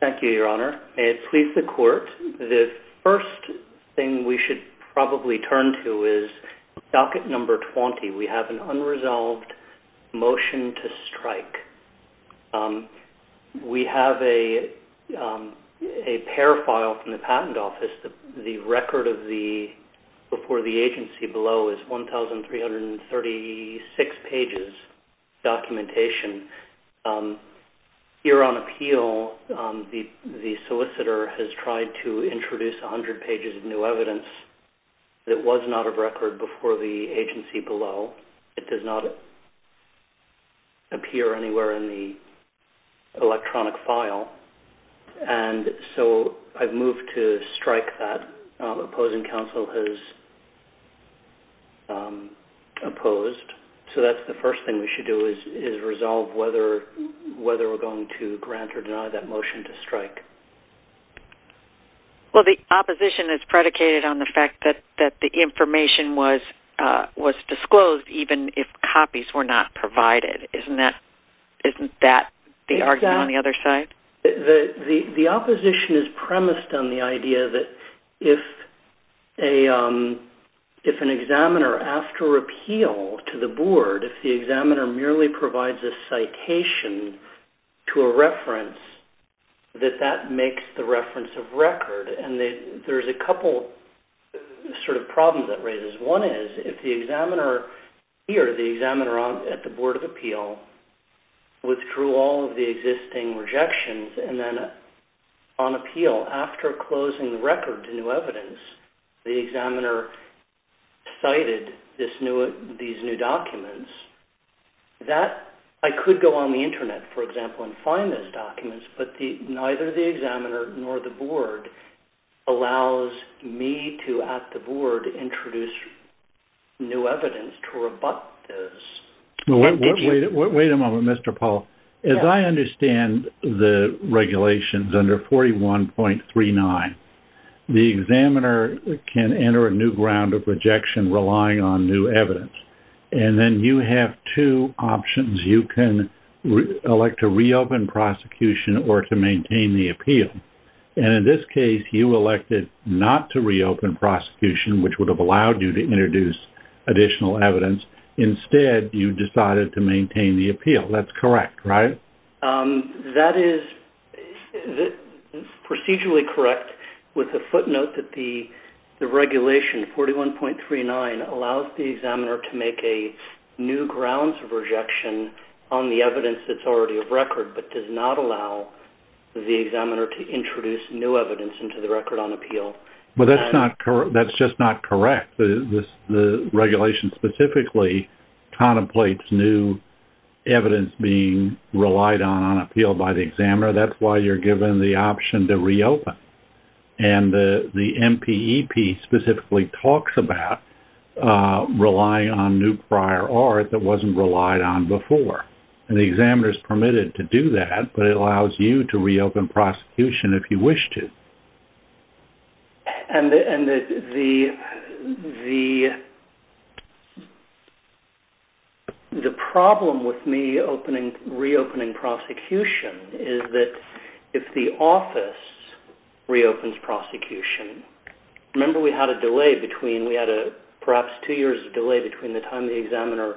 Thank you, Your Honor. May it please the Court, the first thing we should probably turn to is docket number 20. We have an unresolved motion to strike. We have a pair file from the agency below is 1,336 pages documentation. Here on appeal, the solicitor has tried to introduce 100 pages of new evidence that was not of record before the agency below. It does not appear anywhere in the electronic file. And so I've moved to strike that. Opposing counsel has opposed. So that's the first thing we should do is resolve whether we're going to grant or deny that motion to strike. Well, the opposition is predicated on the fact that the information was disclosed even if copies were not provided. Isn't that the argument on the other side? The opposition is premised on the idea that if an examiner after appeal to the board, if the examiner merely provides a citation to a reference, that that makes the reference of record. And there's a couple sort of problems that raises. One is if the examiner here, the examiner at the Board of Appeal, withdrew all of the existing rejections and then on appeal, after closing the record to new evidence, the examiner cited these new documents, that I could go on the Internet, for example, and find those new evidence to rebut this. Wait a moment, Mr. Paul. As I understand the regulations under 41.39, the examiner can enter a new ground of rejection relying on new evidence. And then you have two options. You can elect to reopen prosecution or to maintain the appeal. And in this case, you elected not to reopen prosecution, which would have allowed you to introduce additional evidence. Instead, you decided to maintain the appeal. That's correct, right? That is procedurally correct with a footnote that the regulation 41.39 allows the examiner to make a new grounds of rejection on the evidence that's already of record but does not allow the examiner to introduce new evidence into the record on appeal. But that's not correct. That's just not correct. The regulation specifically contemplates new evidence being relied on on appeal by the examiner. That's why you're given the option to reopen. And the MPEP specifically talks about relying on new prior art that wasn't relied on before. And the examiner is permitted to do that, but it allows you to reopen prosecution if you wish to. And the problem with me reopening prosecution is that if the office reopens prosecution, remember we had a delay between, we had perhaps two years of delay between the time the examiner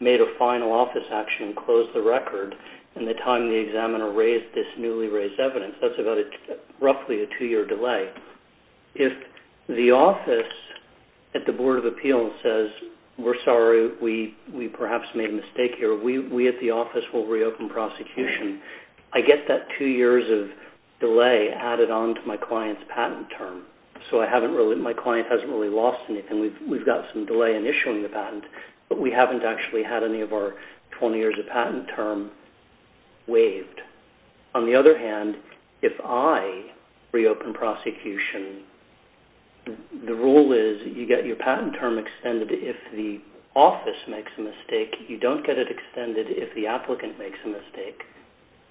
made a final office action and closed the record and the time the examiner raised this newly raised evidence. That's roughly a two-year delay. If the office at the Board of Appeals says, we're sorry, we perhaps made a mistake here, we at the office will reopen prosecution, I get that two years of delay added on to my client's patent term. So I haven't really, my client hasn't really lost anything. We've got some delay in issuing the patent, but we haven't actually had any of our 20 years of patent term waived. On the other hand, if I reopen prosecution, the rule is you get your patent term extended if the office makes a mistake. You don't get it extended if the applicant makes a mistake.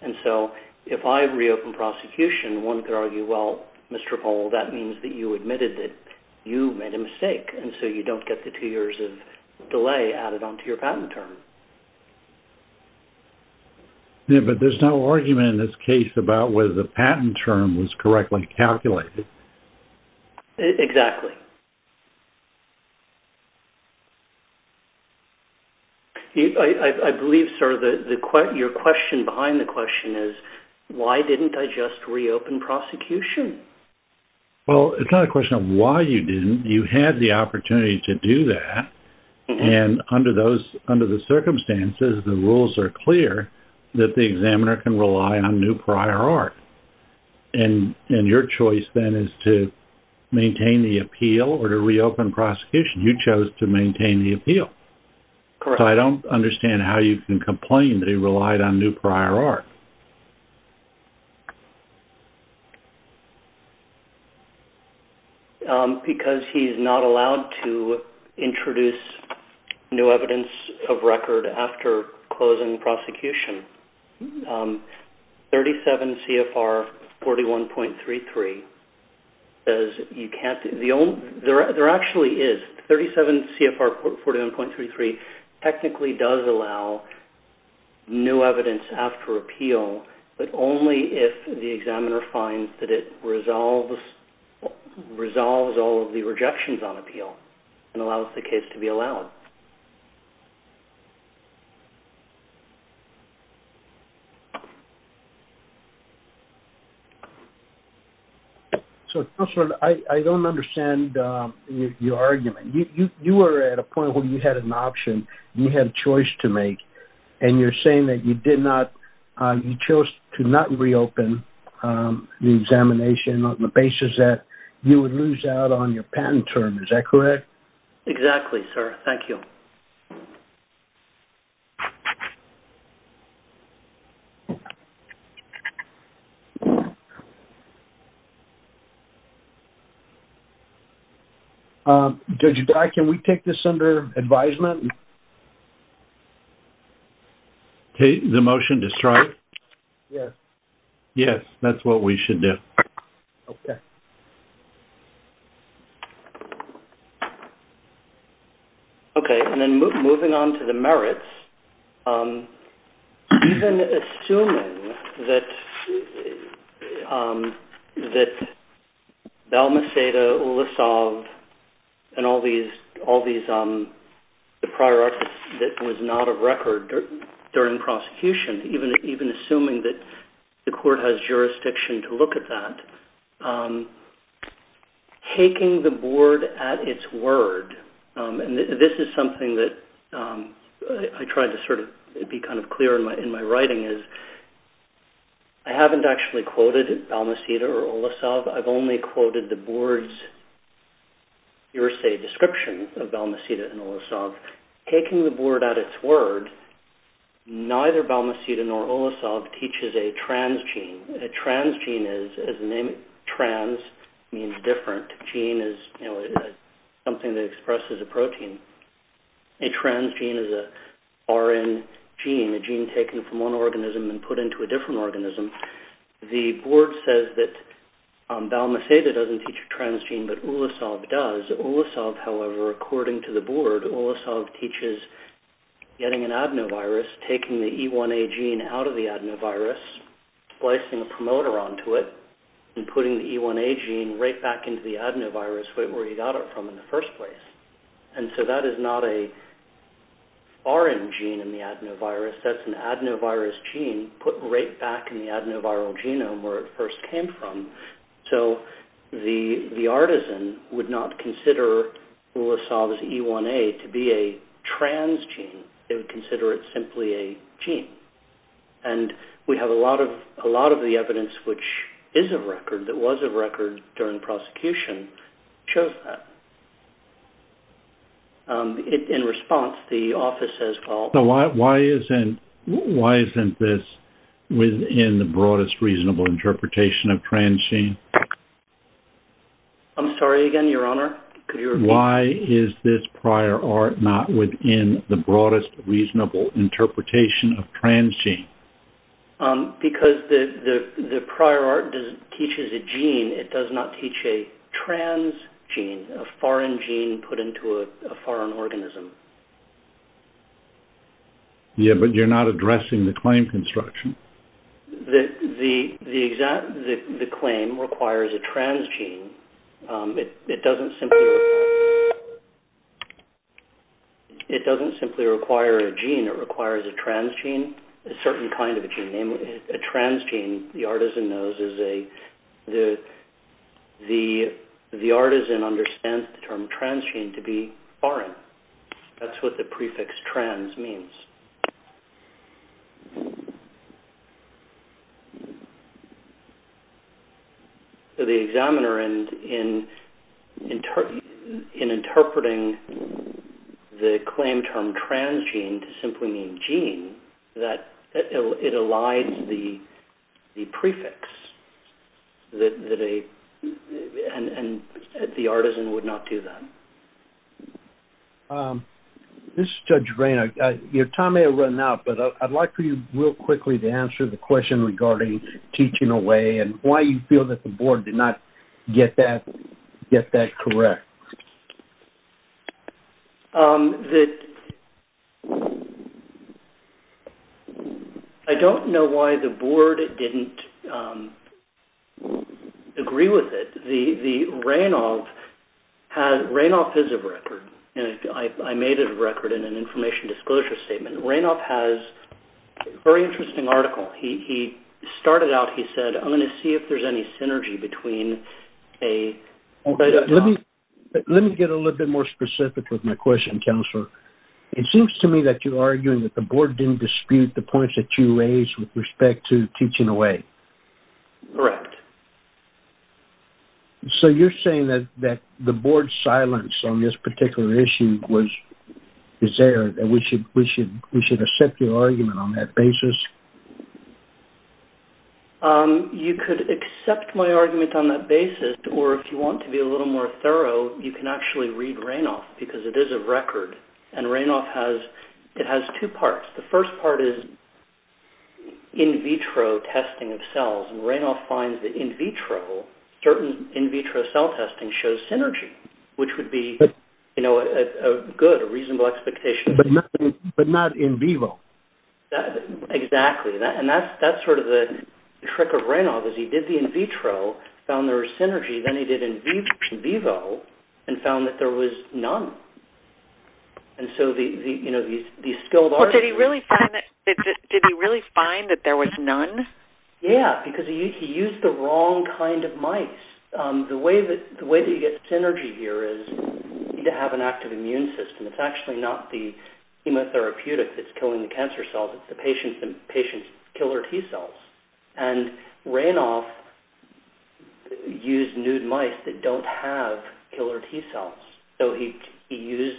And so if I reopen prosecution, one could argue, well, Mr. Hole, that means that you admitted that you made a mistake. And so you don't get the two years of delay added onto your patent term. Yeah, but there's no argument in this case about whether the patent term was correctly calculated. Exactly. I believe, sir, that your question behind the question is, why didn't I just reopen prosecution? Well, it's not a question of why you didn't. You had the opportunity to do that. And under those, under the circumstances, the rules are clear that the examiner can rely on new prior art. And your choice then is to maintain the appeal or to reopen prosecution. You chose to maintain the appeal. Correct. So I don't understand how you can complain that he relied on new prior art. Because he's not allowed to introduce new evidence of record after closing prosecution. 37 CFR 41.33 says you can't, there actually is. 37 CFR 41.33 technically does allow new evidence after appeal, but only if the examiner finds that it resolves all of the rejections on appeal and allows the case to be allowed. So, counselor, I don't understand your argument. You were at a point where you had an option, you had a choice to make, and you're saying that you did not, you chose to not reopen the examination on the basis that you would lose out on your patent term. Is that correct? Exactly, sir. Thank you. Judge Dye, can we take this under advisement? The motion to strike? Yes. Yes, that's what we should do. Okay. Okay, and then moving on to the merits, even assuming that Belmaceda, Ulisov, and all these prior art that was not a record during prosecution, even assuming that the court has jurisdiction to look at that, taking the board at its word, and this is something that I tried to sort of be kind of clear in my writing, is I haven't actually quoted Belmaceda or Ulisov. I've only quoted the board's hearsay description of Belmaceda and Ulisov. Taking the board at its word, neither Belmaceda nor Ulisov teaches a transgene. A transgene is, as the name trans means different, gene is, you know, something that expresses a protein. A transgene is a RN gene, a gene taken from one organism and put into a different organism. The board says that Belmaceda doesn't teach a transgene, but Ulisov does. Ulisov, however, according to the board, Ulisov teaches getting an adenovirus, taking the E1A gene out of the adenovirus, splicing a promoter onto it, and putting the E1A gene right back into the adenovirus right where you got it from in the first place. And so that is not a RN gene in the adenovirus, that's an adenovirus gene put right back in the adenoviral genome where it first came from. So the artisan would not consider Ulisov's E1A to be a transgene, they would consider it simply a gene. And we have a lot of the evidence which is of record, that was of record during the prosecution, shows that. In response, the office has called... Why isn't this within the broadest reasonable interpretation of transgene? I'm sorry again, Your Honor, could you repeat? Why is this prior art not within the broadest reasonable interpretation of transgene? Because the prior art teaches a gene, it does not teach a transgene, a foreign gene put into a foreign organism. Yeah, but you're not addressing the claim construction. The claim requires a transgene. It doesn't simply require a gene, it requires a transgene, a certain kind of a gene. A transgene, the artisan knows, the artisan understands the gene to be foreign. That's what the prefix trans means. So the examiner in interpreting the claim term transgene to simply mean gene, that it the prefix, and the artisan would not do that. This is Judge Rainer. Your time may have run out, but I'd like for you real quickly to answer the question regarding teaching away and why you feel that the board did not get that correct. I don't know why the board didn't agree with it. The Reinoff, Reinoff is a record. I made a record in an information disclosure statement. Reinoff has a very interesting article. He started out, he said, I'm going to see if there's any synergy between a... Let me get a little bit more specific with my question, Counselor. It seems to me that you're arguing that the board didn't dispute the points that you raised with respect to teaching away. Correct. So you're saying that the board's silence on this particular issue is there, that we should accept your argument on that basis? You could accept my argument on that basis, or if you want to be a little more thorough, you can actually read Reinoff, because it is a record, and Reinoff has, it has two parts. The first part is in vitro testing of cells, and Reinoff finds that in vitro, certain in vitro cell testing shows synergy, which would be, you know, a good, a reasonable expectation. But not in vivo. Exactly. And that's sort of the trick of Reinoff, is he did the in vitro, found there was synergy, then he did in vivo, and found that there was none. And so the, you know, these skilled arguments... Well, did he really find that there was none? Yeah, because he used the wrong kind of mice. The way that you get synergy here is to have an active immune system. It's actually not the chemotherapeutic that's killing the cancer cells, it's the patient's killer T-cells. And Reinoff used nude mice that don't have killer T-cells. So he used,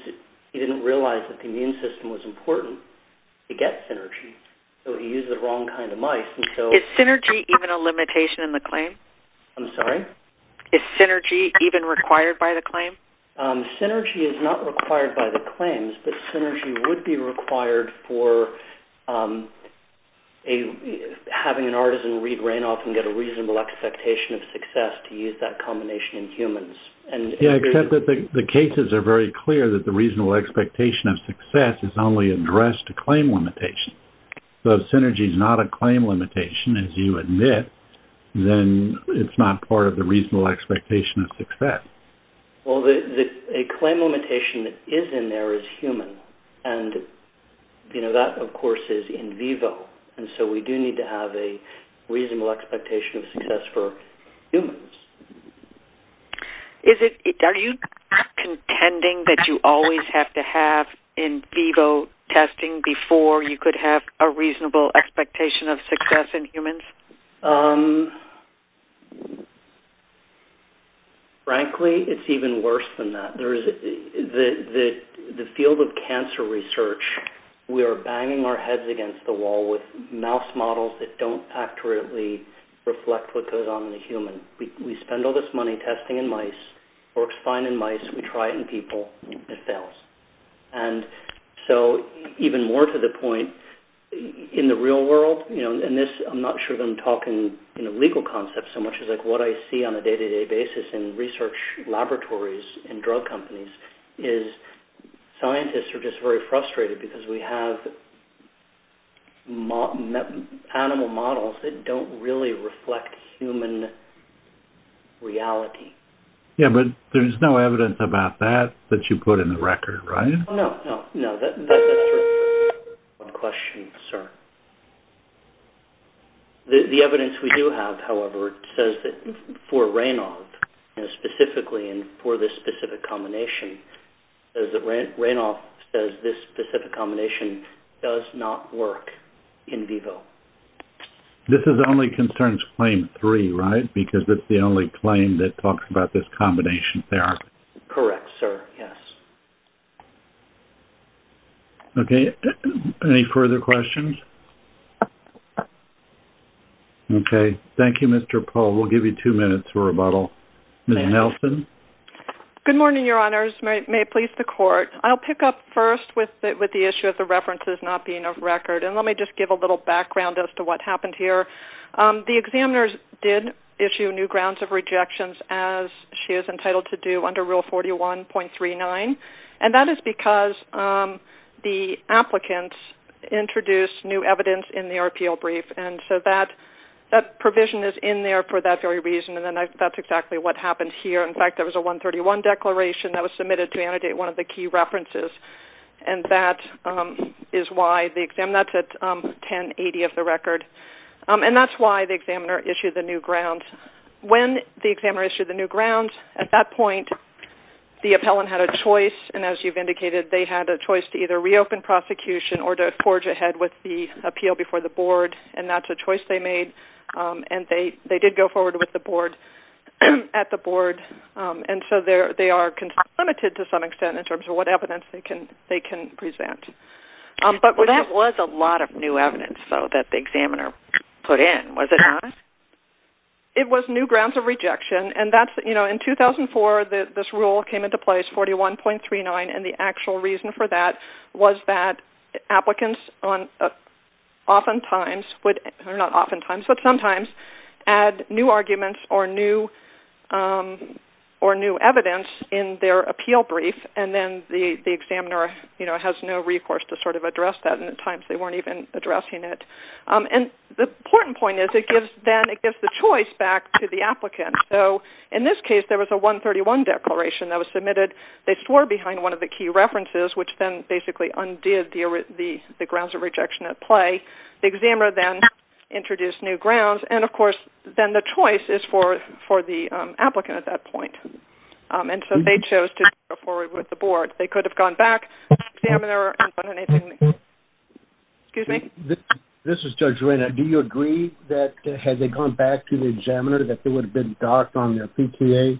he didn't realize that the immune system was important to get synergy, so he used the wrong kind of mice, and so... Is synergy even a limitation in the claim? Is synergy even required by the claim? Synergy is not required by the claims, but synergy would be required for having an artisan read Reinoff and get a reasonable expectation of success to use that combination in humans. Yeah, except that the cases are very clear that the reasonable expectation of success is only addressed to claim limitations. So if synergy is not a claim limitation, as you admit, then it's not part of the reasonable expectation of success. Well, a claim limitation that is in there is human, and that, of course, is in vivo, and so we do need to have a reasonable expectation of success for humans. Are you contending that you always have to have in vivo testing before you could have in vivo? Frankly, it's even worse than that. The field of cancer research, we are banging our heads against the wall with mouse models that don't accurately reflect what goes on in a human. We spend all this money testing in mice, works fine in mice, we try it in people, it fails. And so even more to the point, in the real world, and I'm not sure that I'm talking legal concepts so much as what I see on a day-to-day basis in research laboratories and drug companies, is scientists are just very frustrated because we have animal models that don't really reflect human reality. Yeah, but there's no evidence about that that you put in the record, right? No, no, no. That's a different question, sir. The evidence we do have, however, says that for Raynaud, and specifically for this specific combination, says that Raynaud says this specific combination does not work in vivo. This is only concerns claim three, right? Because it's the only claim that talks about this combination therapy? Correct, sir. Yes. Okay. Any further questions? Okay. Thank you, Mr. Pohl. We'll give you two minutes for rebuttal. Ms. Nelson? Good morning, Your Honors. May it please the Court. I'll pick up first with the issue of the references not being of record. And let me just give a little background as to what happened here. The examiners did issue new grounds of rejections, as she is entitled to do, under Rule 41.39. And that is because the applicants introduced new evidence in the RPO brief. And so that provision is in there for that very reason, and that's exactly what happened here. In fact, there was a 131 declaration that was submitted to annotate one of the key references. And that is why the exam-that's at 1080 of the record. And that's why the examiner issued the new grounds. When the examiner issued the new grounds, at that point, the appellant had a choice. And as you've indicated, they had a choice to either reopen prosecution or to forge ahead with the appeal before the board. And that's a choice they made. And they did go forward with the board-at the board. And so they are limited, to some extent, in terms of what evidence they can present. But- Well, that was a lot of new evidence, though, that the examiner put in, was it not? It was new grounds of rejection. And that's-you know, in 2004, this rule came into place, 41.39, and the actual reason for that was that applicants oftentimes would-or not oftentimes, but sometimes-add new arguments or new evidence in their appeal brief. And then the examiner, you know, has no recourse to sort of address that. And at times, they weren't even addressing it. And the important point is, it gives-then it gives the choice back to the applicant. So in this case, there was a 131 declaration that was submitted. They swore behind one of the key references, which then basically undid the grounds of rejection at play. The examiner then introduced new grounds. And, of course, then the choice is for the applicant at that point. And so they chose to go forward with the board. They could have gone back to the examiner and done anything- Excuse me? This is Judge Reyna. Do you agree that, had they gone back to the examiner, that they would have been docked on their PTA?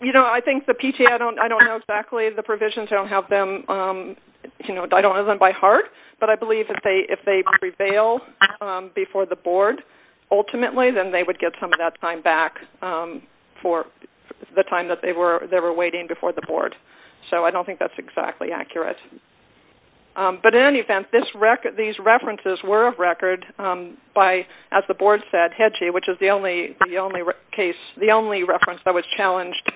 You know, I think the PTA-I don't know exactly the provisions. I don't have them-you know, I don't have them by heart. But I believe that if they prevail before the board, ultimately then they would get some of that time back for the time that they were waiting before the board. So I don't think that's exactly accurate. But in any event, these references were of record by, as the board said, HEDGI, which is the only case-the only reference that was challenged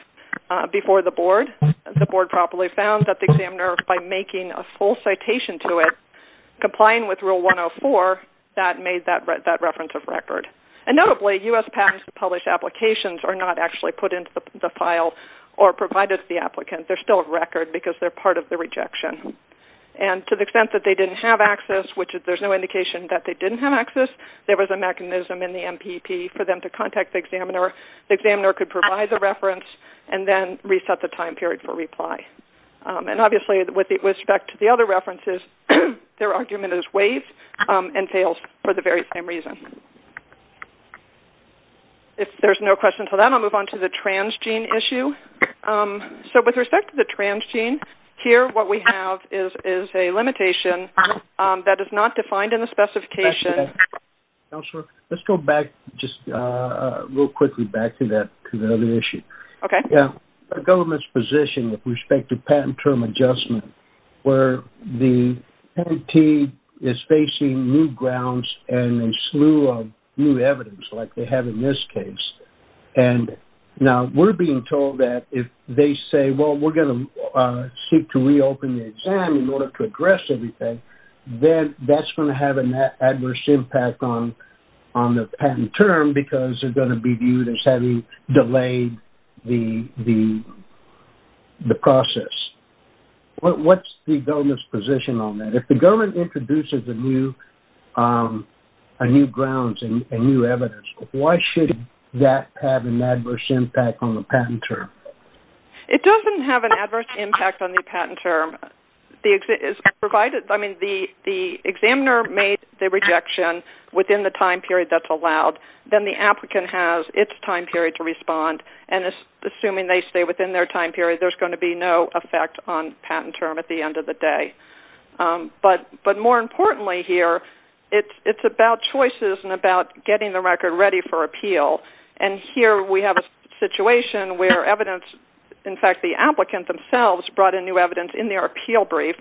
before the board. The board properly found that the examiner, by making a full citation to it, complying with Rule 104, that made that reference of record. And notably, U.S. patents published applications are not actually put into the file or provided to the applicant. They're still of record because they're part of the rejection. And to the extent that they didn't have access, which there's no indication that they didn't have access, there was a mechanism in the MPP for them to contact the examiner. The examiner could provide the reference and then And obviously, with respect to the other references, their argument is waived and fails for the very same reason. If there's no questions for that, I'll move on to the transgene issue. So with respect to the transgene, here what we have is a limitation that is not defined in the specification- Back to that. Counselor, let's go back, just real quickly, back to the other issue. Okay. The government's position with respect to patent term adjustment, where the entity is facing new grounds and a slew of new evidence, like they have in this case. And now we're being told that if they say, well, we're going to seek to reopen the exam in order to address everything, then that's going to have an adverse impact on the patent term because they're going to be viewed as having delayed the process. What's the government's position on that? If the government introduces new grounds and new evidence, why should that have an adverse impact on the patent term? It doesn't have an adverse impact on the patent term. The examiner made the rejection within the time period that's allowed, then the applicant has its time period to respond. And assuming they stay within their time period, there's going to be no effect on patent term at the end of the day. But more importantly here, it's about choices and about getting the record ready for appeal. And here we have a situation where evidence-in fact, the applicant themselves brought in new evidence in their appeal brief,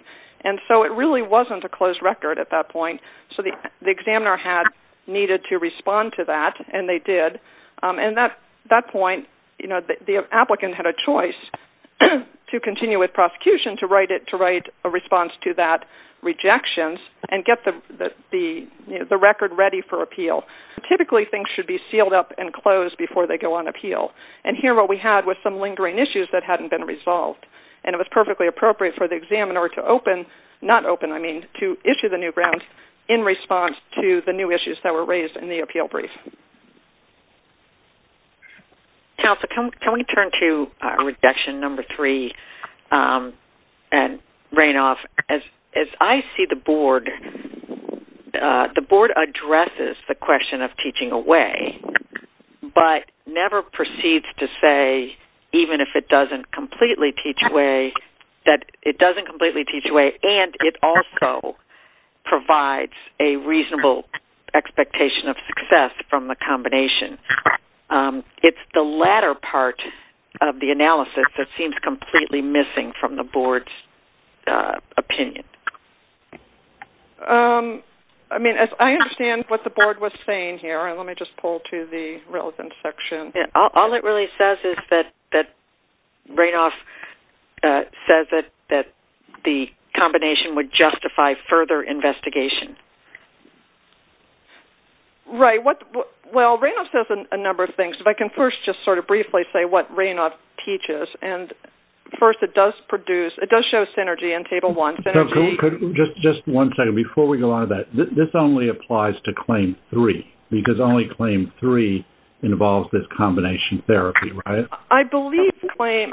and so it really wasn't a closed record at that point. So the examiner had needed to respond to that, and they did. And at that point, the applicant had a choice to continue with prosecution, to write a response to that rejection, and get the record ready for appeal. Typically things should be sealed up and closed before they go on appeal. And here what we had was some lingering issues that hadn't been resolved. And it was perfectly appropriate for the examiner to open, not close, open, I mean, to issue the new grounds in response to the new issues that were raised in the appeal brief. Counsel, can we turn to rejection number three? And Raynolf, as I see the board, the board addresses the question of teaching away, but never proceeds to say, even if it doesn't completely teach away, that it doesn't completely teach away, and it also provides a reasonable expectation of success from the combination. It's the latter part of the analysis that seems completely missing from the board's opinion. I mean, I understand what the board was saying here, and let me just pull to the relevant section. All it really says is that Raynolf says that the combination would justify further investigation. Right. Well, Raynolf says a number of things, but I can first just sort of briefly say what Raynolf teaches. And first, it does produce, it does show synergy in Table 1. Just one second. Before we go on to that, this only applies to Claim 3, because only Claim 3 is a combination therapy, right? I believe Claim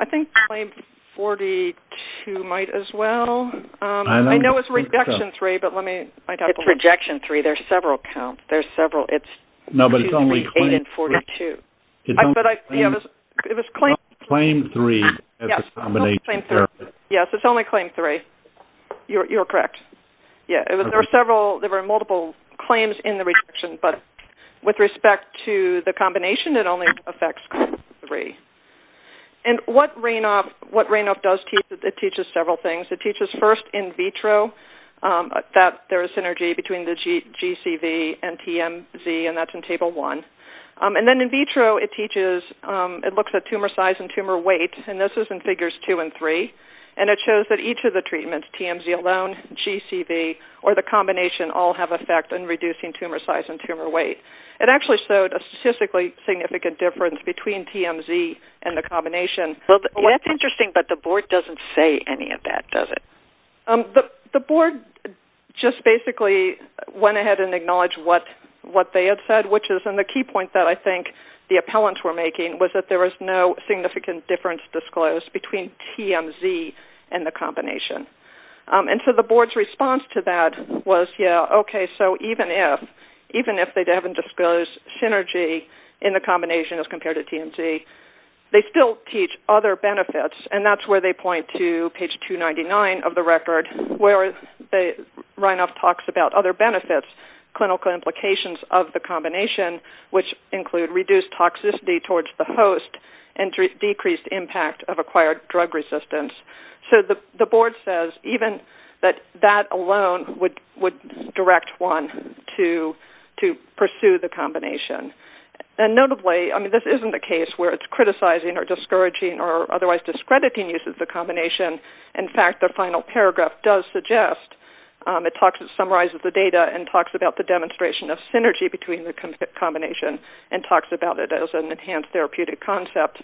42 might as well. I know it's Rejection 3, but let me- It's Rejection 3. There's several counts. There's several. It's usually 8 and 42. No, but it's only Claim 3. It's only Claim 3 as a combination therapy. Yes, it's only Claim 3. You're correct. There were multiple claims in the rejection, but with respect to the combination, it only affects Claim 3. And what Raynolf does, it teaches several things. It teaches, first, in vitro, that there is synergy between the GCV and TMZ, and that's in Table 1. And then in vitro, it teaches, it looks at tumor size and tumor weight, and this is in Figures 2 and 3. And it shows that each of the treatments, TMZ alone, GCV, or the combination, all have an effect in reducing tumor size and tumor weight. It actually showed a statistically significant difference between TMZ and the combination. Well, that's interesting, but the board doesn't say any of that, does it? The board just basically went ahead and acknowledged what they had said, which is- And the key point that I think the appellants were making was that there was no significant difference disclosed between TMZ and the combination. And so the board's response to that was, yes, okay, so even if they haven't disclosed synergy in the combination as compared to TMZ, they still teach other benefits. And that's where they point to page 299 of the record, where Raynolf talks about other benefits, clinical implications of the combination, which include reduced toxicity towards the host and decreased impact of acquired drug resistance. So the board says even that that alone would direct one to pursue the combination. And notably, I mean, this isn't a case where it's criticizing or discouraging or otherwise discrediting use of the combination. In fact, the final paragraph does suggest-it summarizes the data and talks about the demonstration of synergy between the combination and talks about it as an enhanced therapeutic concept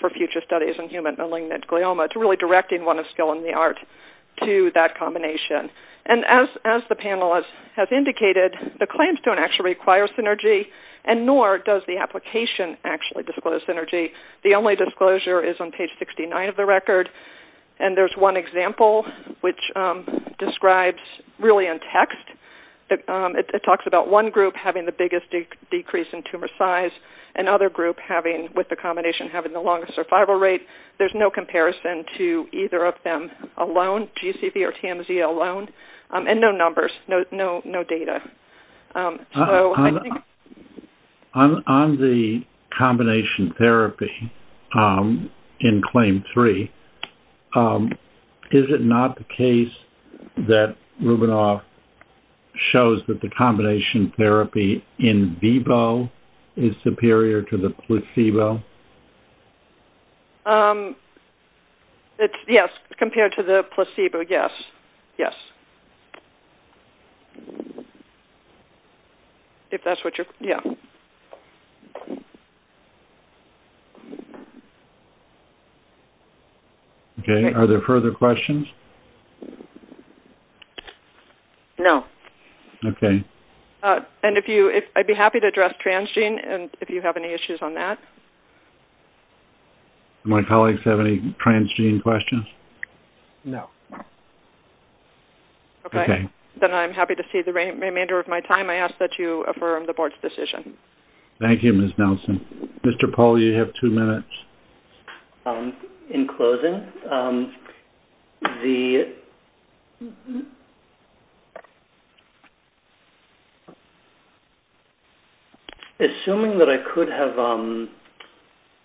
for future studies in human malignant glioma. It's really directing one of skill in the art to that combination. And as the panelists have indicated, the claims don't actually require synergy, and nor does the application actually disclose synergy. The only disclosure is on page 69 of the record. And there's one example which describes really in text. It talks about one group having the biggest decrease in tumor size and other group with the combination having the longest survival rate. There's no comparison to either of them alone-GCV or TMZ alone-and no numbers, no data. On the combination therapy in Claim 3, is it not the case that Rubinoff shows that the combination therapy in vivo is superior to the placebo? Yes, compared to the placebo, yes. If that's what you're-yeah. Okay. Are there further questions? No. Okay. And I'd be happy to address transgene if you have any issues on that. Do my colleagues have any transgene questions? No. Okay. Then I'm happy to see the remainder of my time. I ask that you affirm the board's decision. Thank you, Ms. Nelson. Mr. Paul, you have two minutes. In closing, the- Assuming that I could have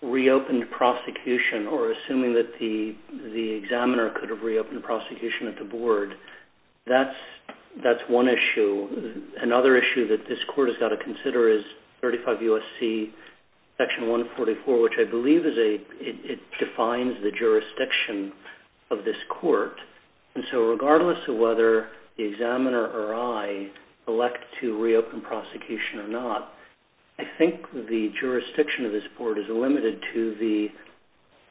reopened prosecution or not, assuming that the examiner could have reopened prosecution at the board, that's one issue. Another issue that this court has got to consider is 35 U.S.C. Section 144, which I believe is a-it defines the jurisdiction of this court. And so regardless of whether the examiner or I elect to reopen prosecution or not, I think the jurisdiction of this court is limited to the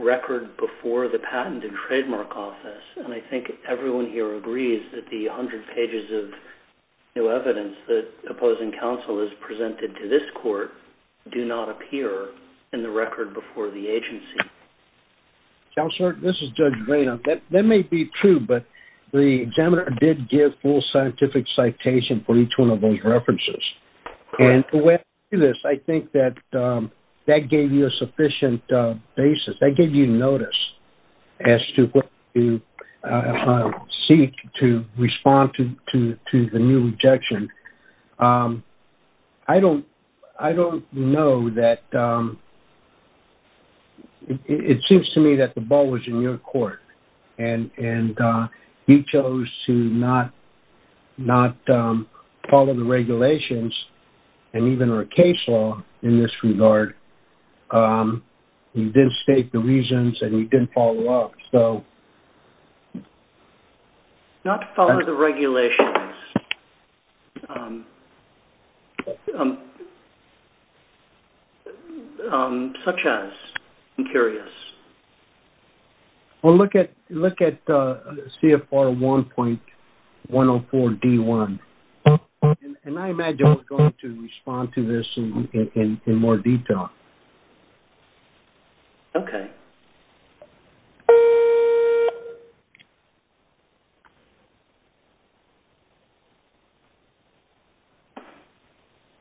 record before the Patent and Trademark Office. And I think everyone here agrees that the 100 pages of new evidence that opposing counsel has presented to this court do not appear in the record before the agency. Counselor, this is Judge Vaino. That may be true, but the examiner did give full scientific citation for each one of those references. And the way I see this, I think that that gave you a sufficient basis. That gave you notice as to what you seek to respond to the new objection. I don't know that-it seems to me that the ball was in your court. And you chose to not follow the regulations and even our case law in this regard. You didn't state the reasons and you didn't follow up. So- Not follow the regulations such as? I'm curious. Well, look at CFR 1.104D1. And I imagine I was going to respond to this in more detail. Okay.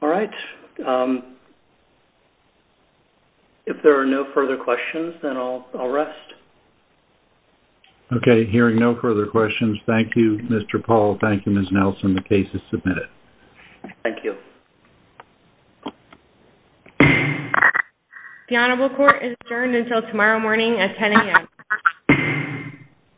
All right. If there are no further questions, then I'll rest. Okay. Hearing no further questions, thank you, Mr. Paul. Thank you, Ms. Nelson. The case is submitted. Thank you. The Honorable Court is adjourned until tomorrow morning at 10 a.m.